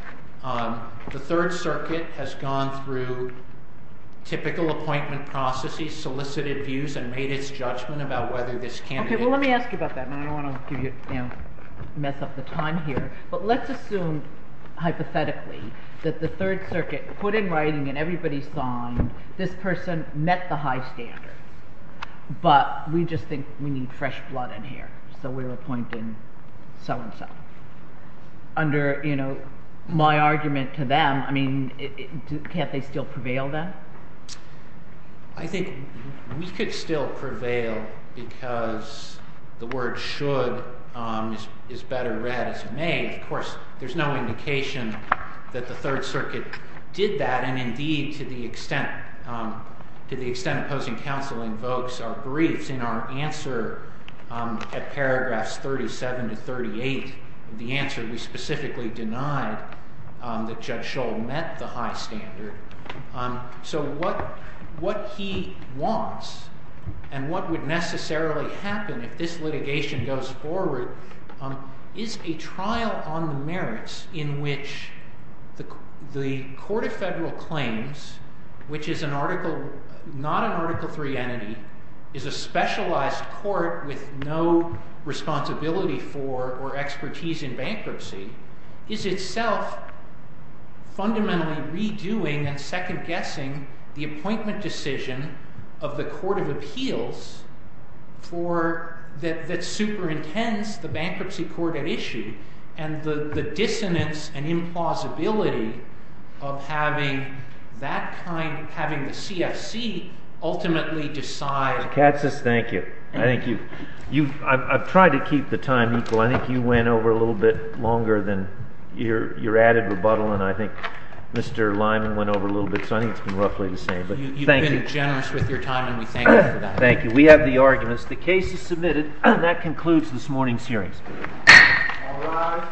the Third Circuit has gone through typical appointment processes, solicited views, and made its judgment about whether this candidate— Okay, well, let me ask you about that, and I don't want to mess up the time here. But let's assume, hypothetically, that the Third Circuit put in writing in everybody's mind, this person met the high standard, but we just think we need fresh blood in here, so we're appointing so-and-so. Under my argument to them, can't they still prevail then? I think we could still prevail because the word should is better read as may. Of course, there's no indication that the Third Circuit did that, and indeed, to the extent opposing counsel invokes our briefs in our answer at paragraphs 37 to 38, the answer we specifically denied, that Judge Scholl met the high standard. So what he wants and what would necessarily happen if this litigation goes forward is a trial on the merits in which the Court of Federal Claims, which is not an Article III entity, is a specialized court with no responsibility for or expertise in bankruptcy, is itself fundamentally redoing and second-guessing the appointment decision of the Court of Appeals that superintends the bankruptcy court at issue and the dissonance and implausibility of having that kind—having the CFC ultimately decide— I think you went over a little bit longer than your added rebuttal, and I think Mr. Lyman went over a little bit, so I think it's been roughly the same, but thank you. You've been generous with your time, and we thank you for that. Thank you. We have the arguments. The case is submitted, and that concludes this morning's hearings. All rise.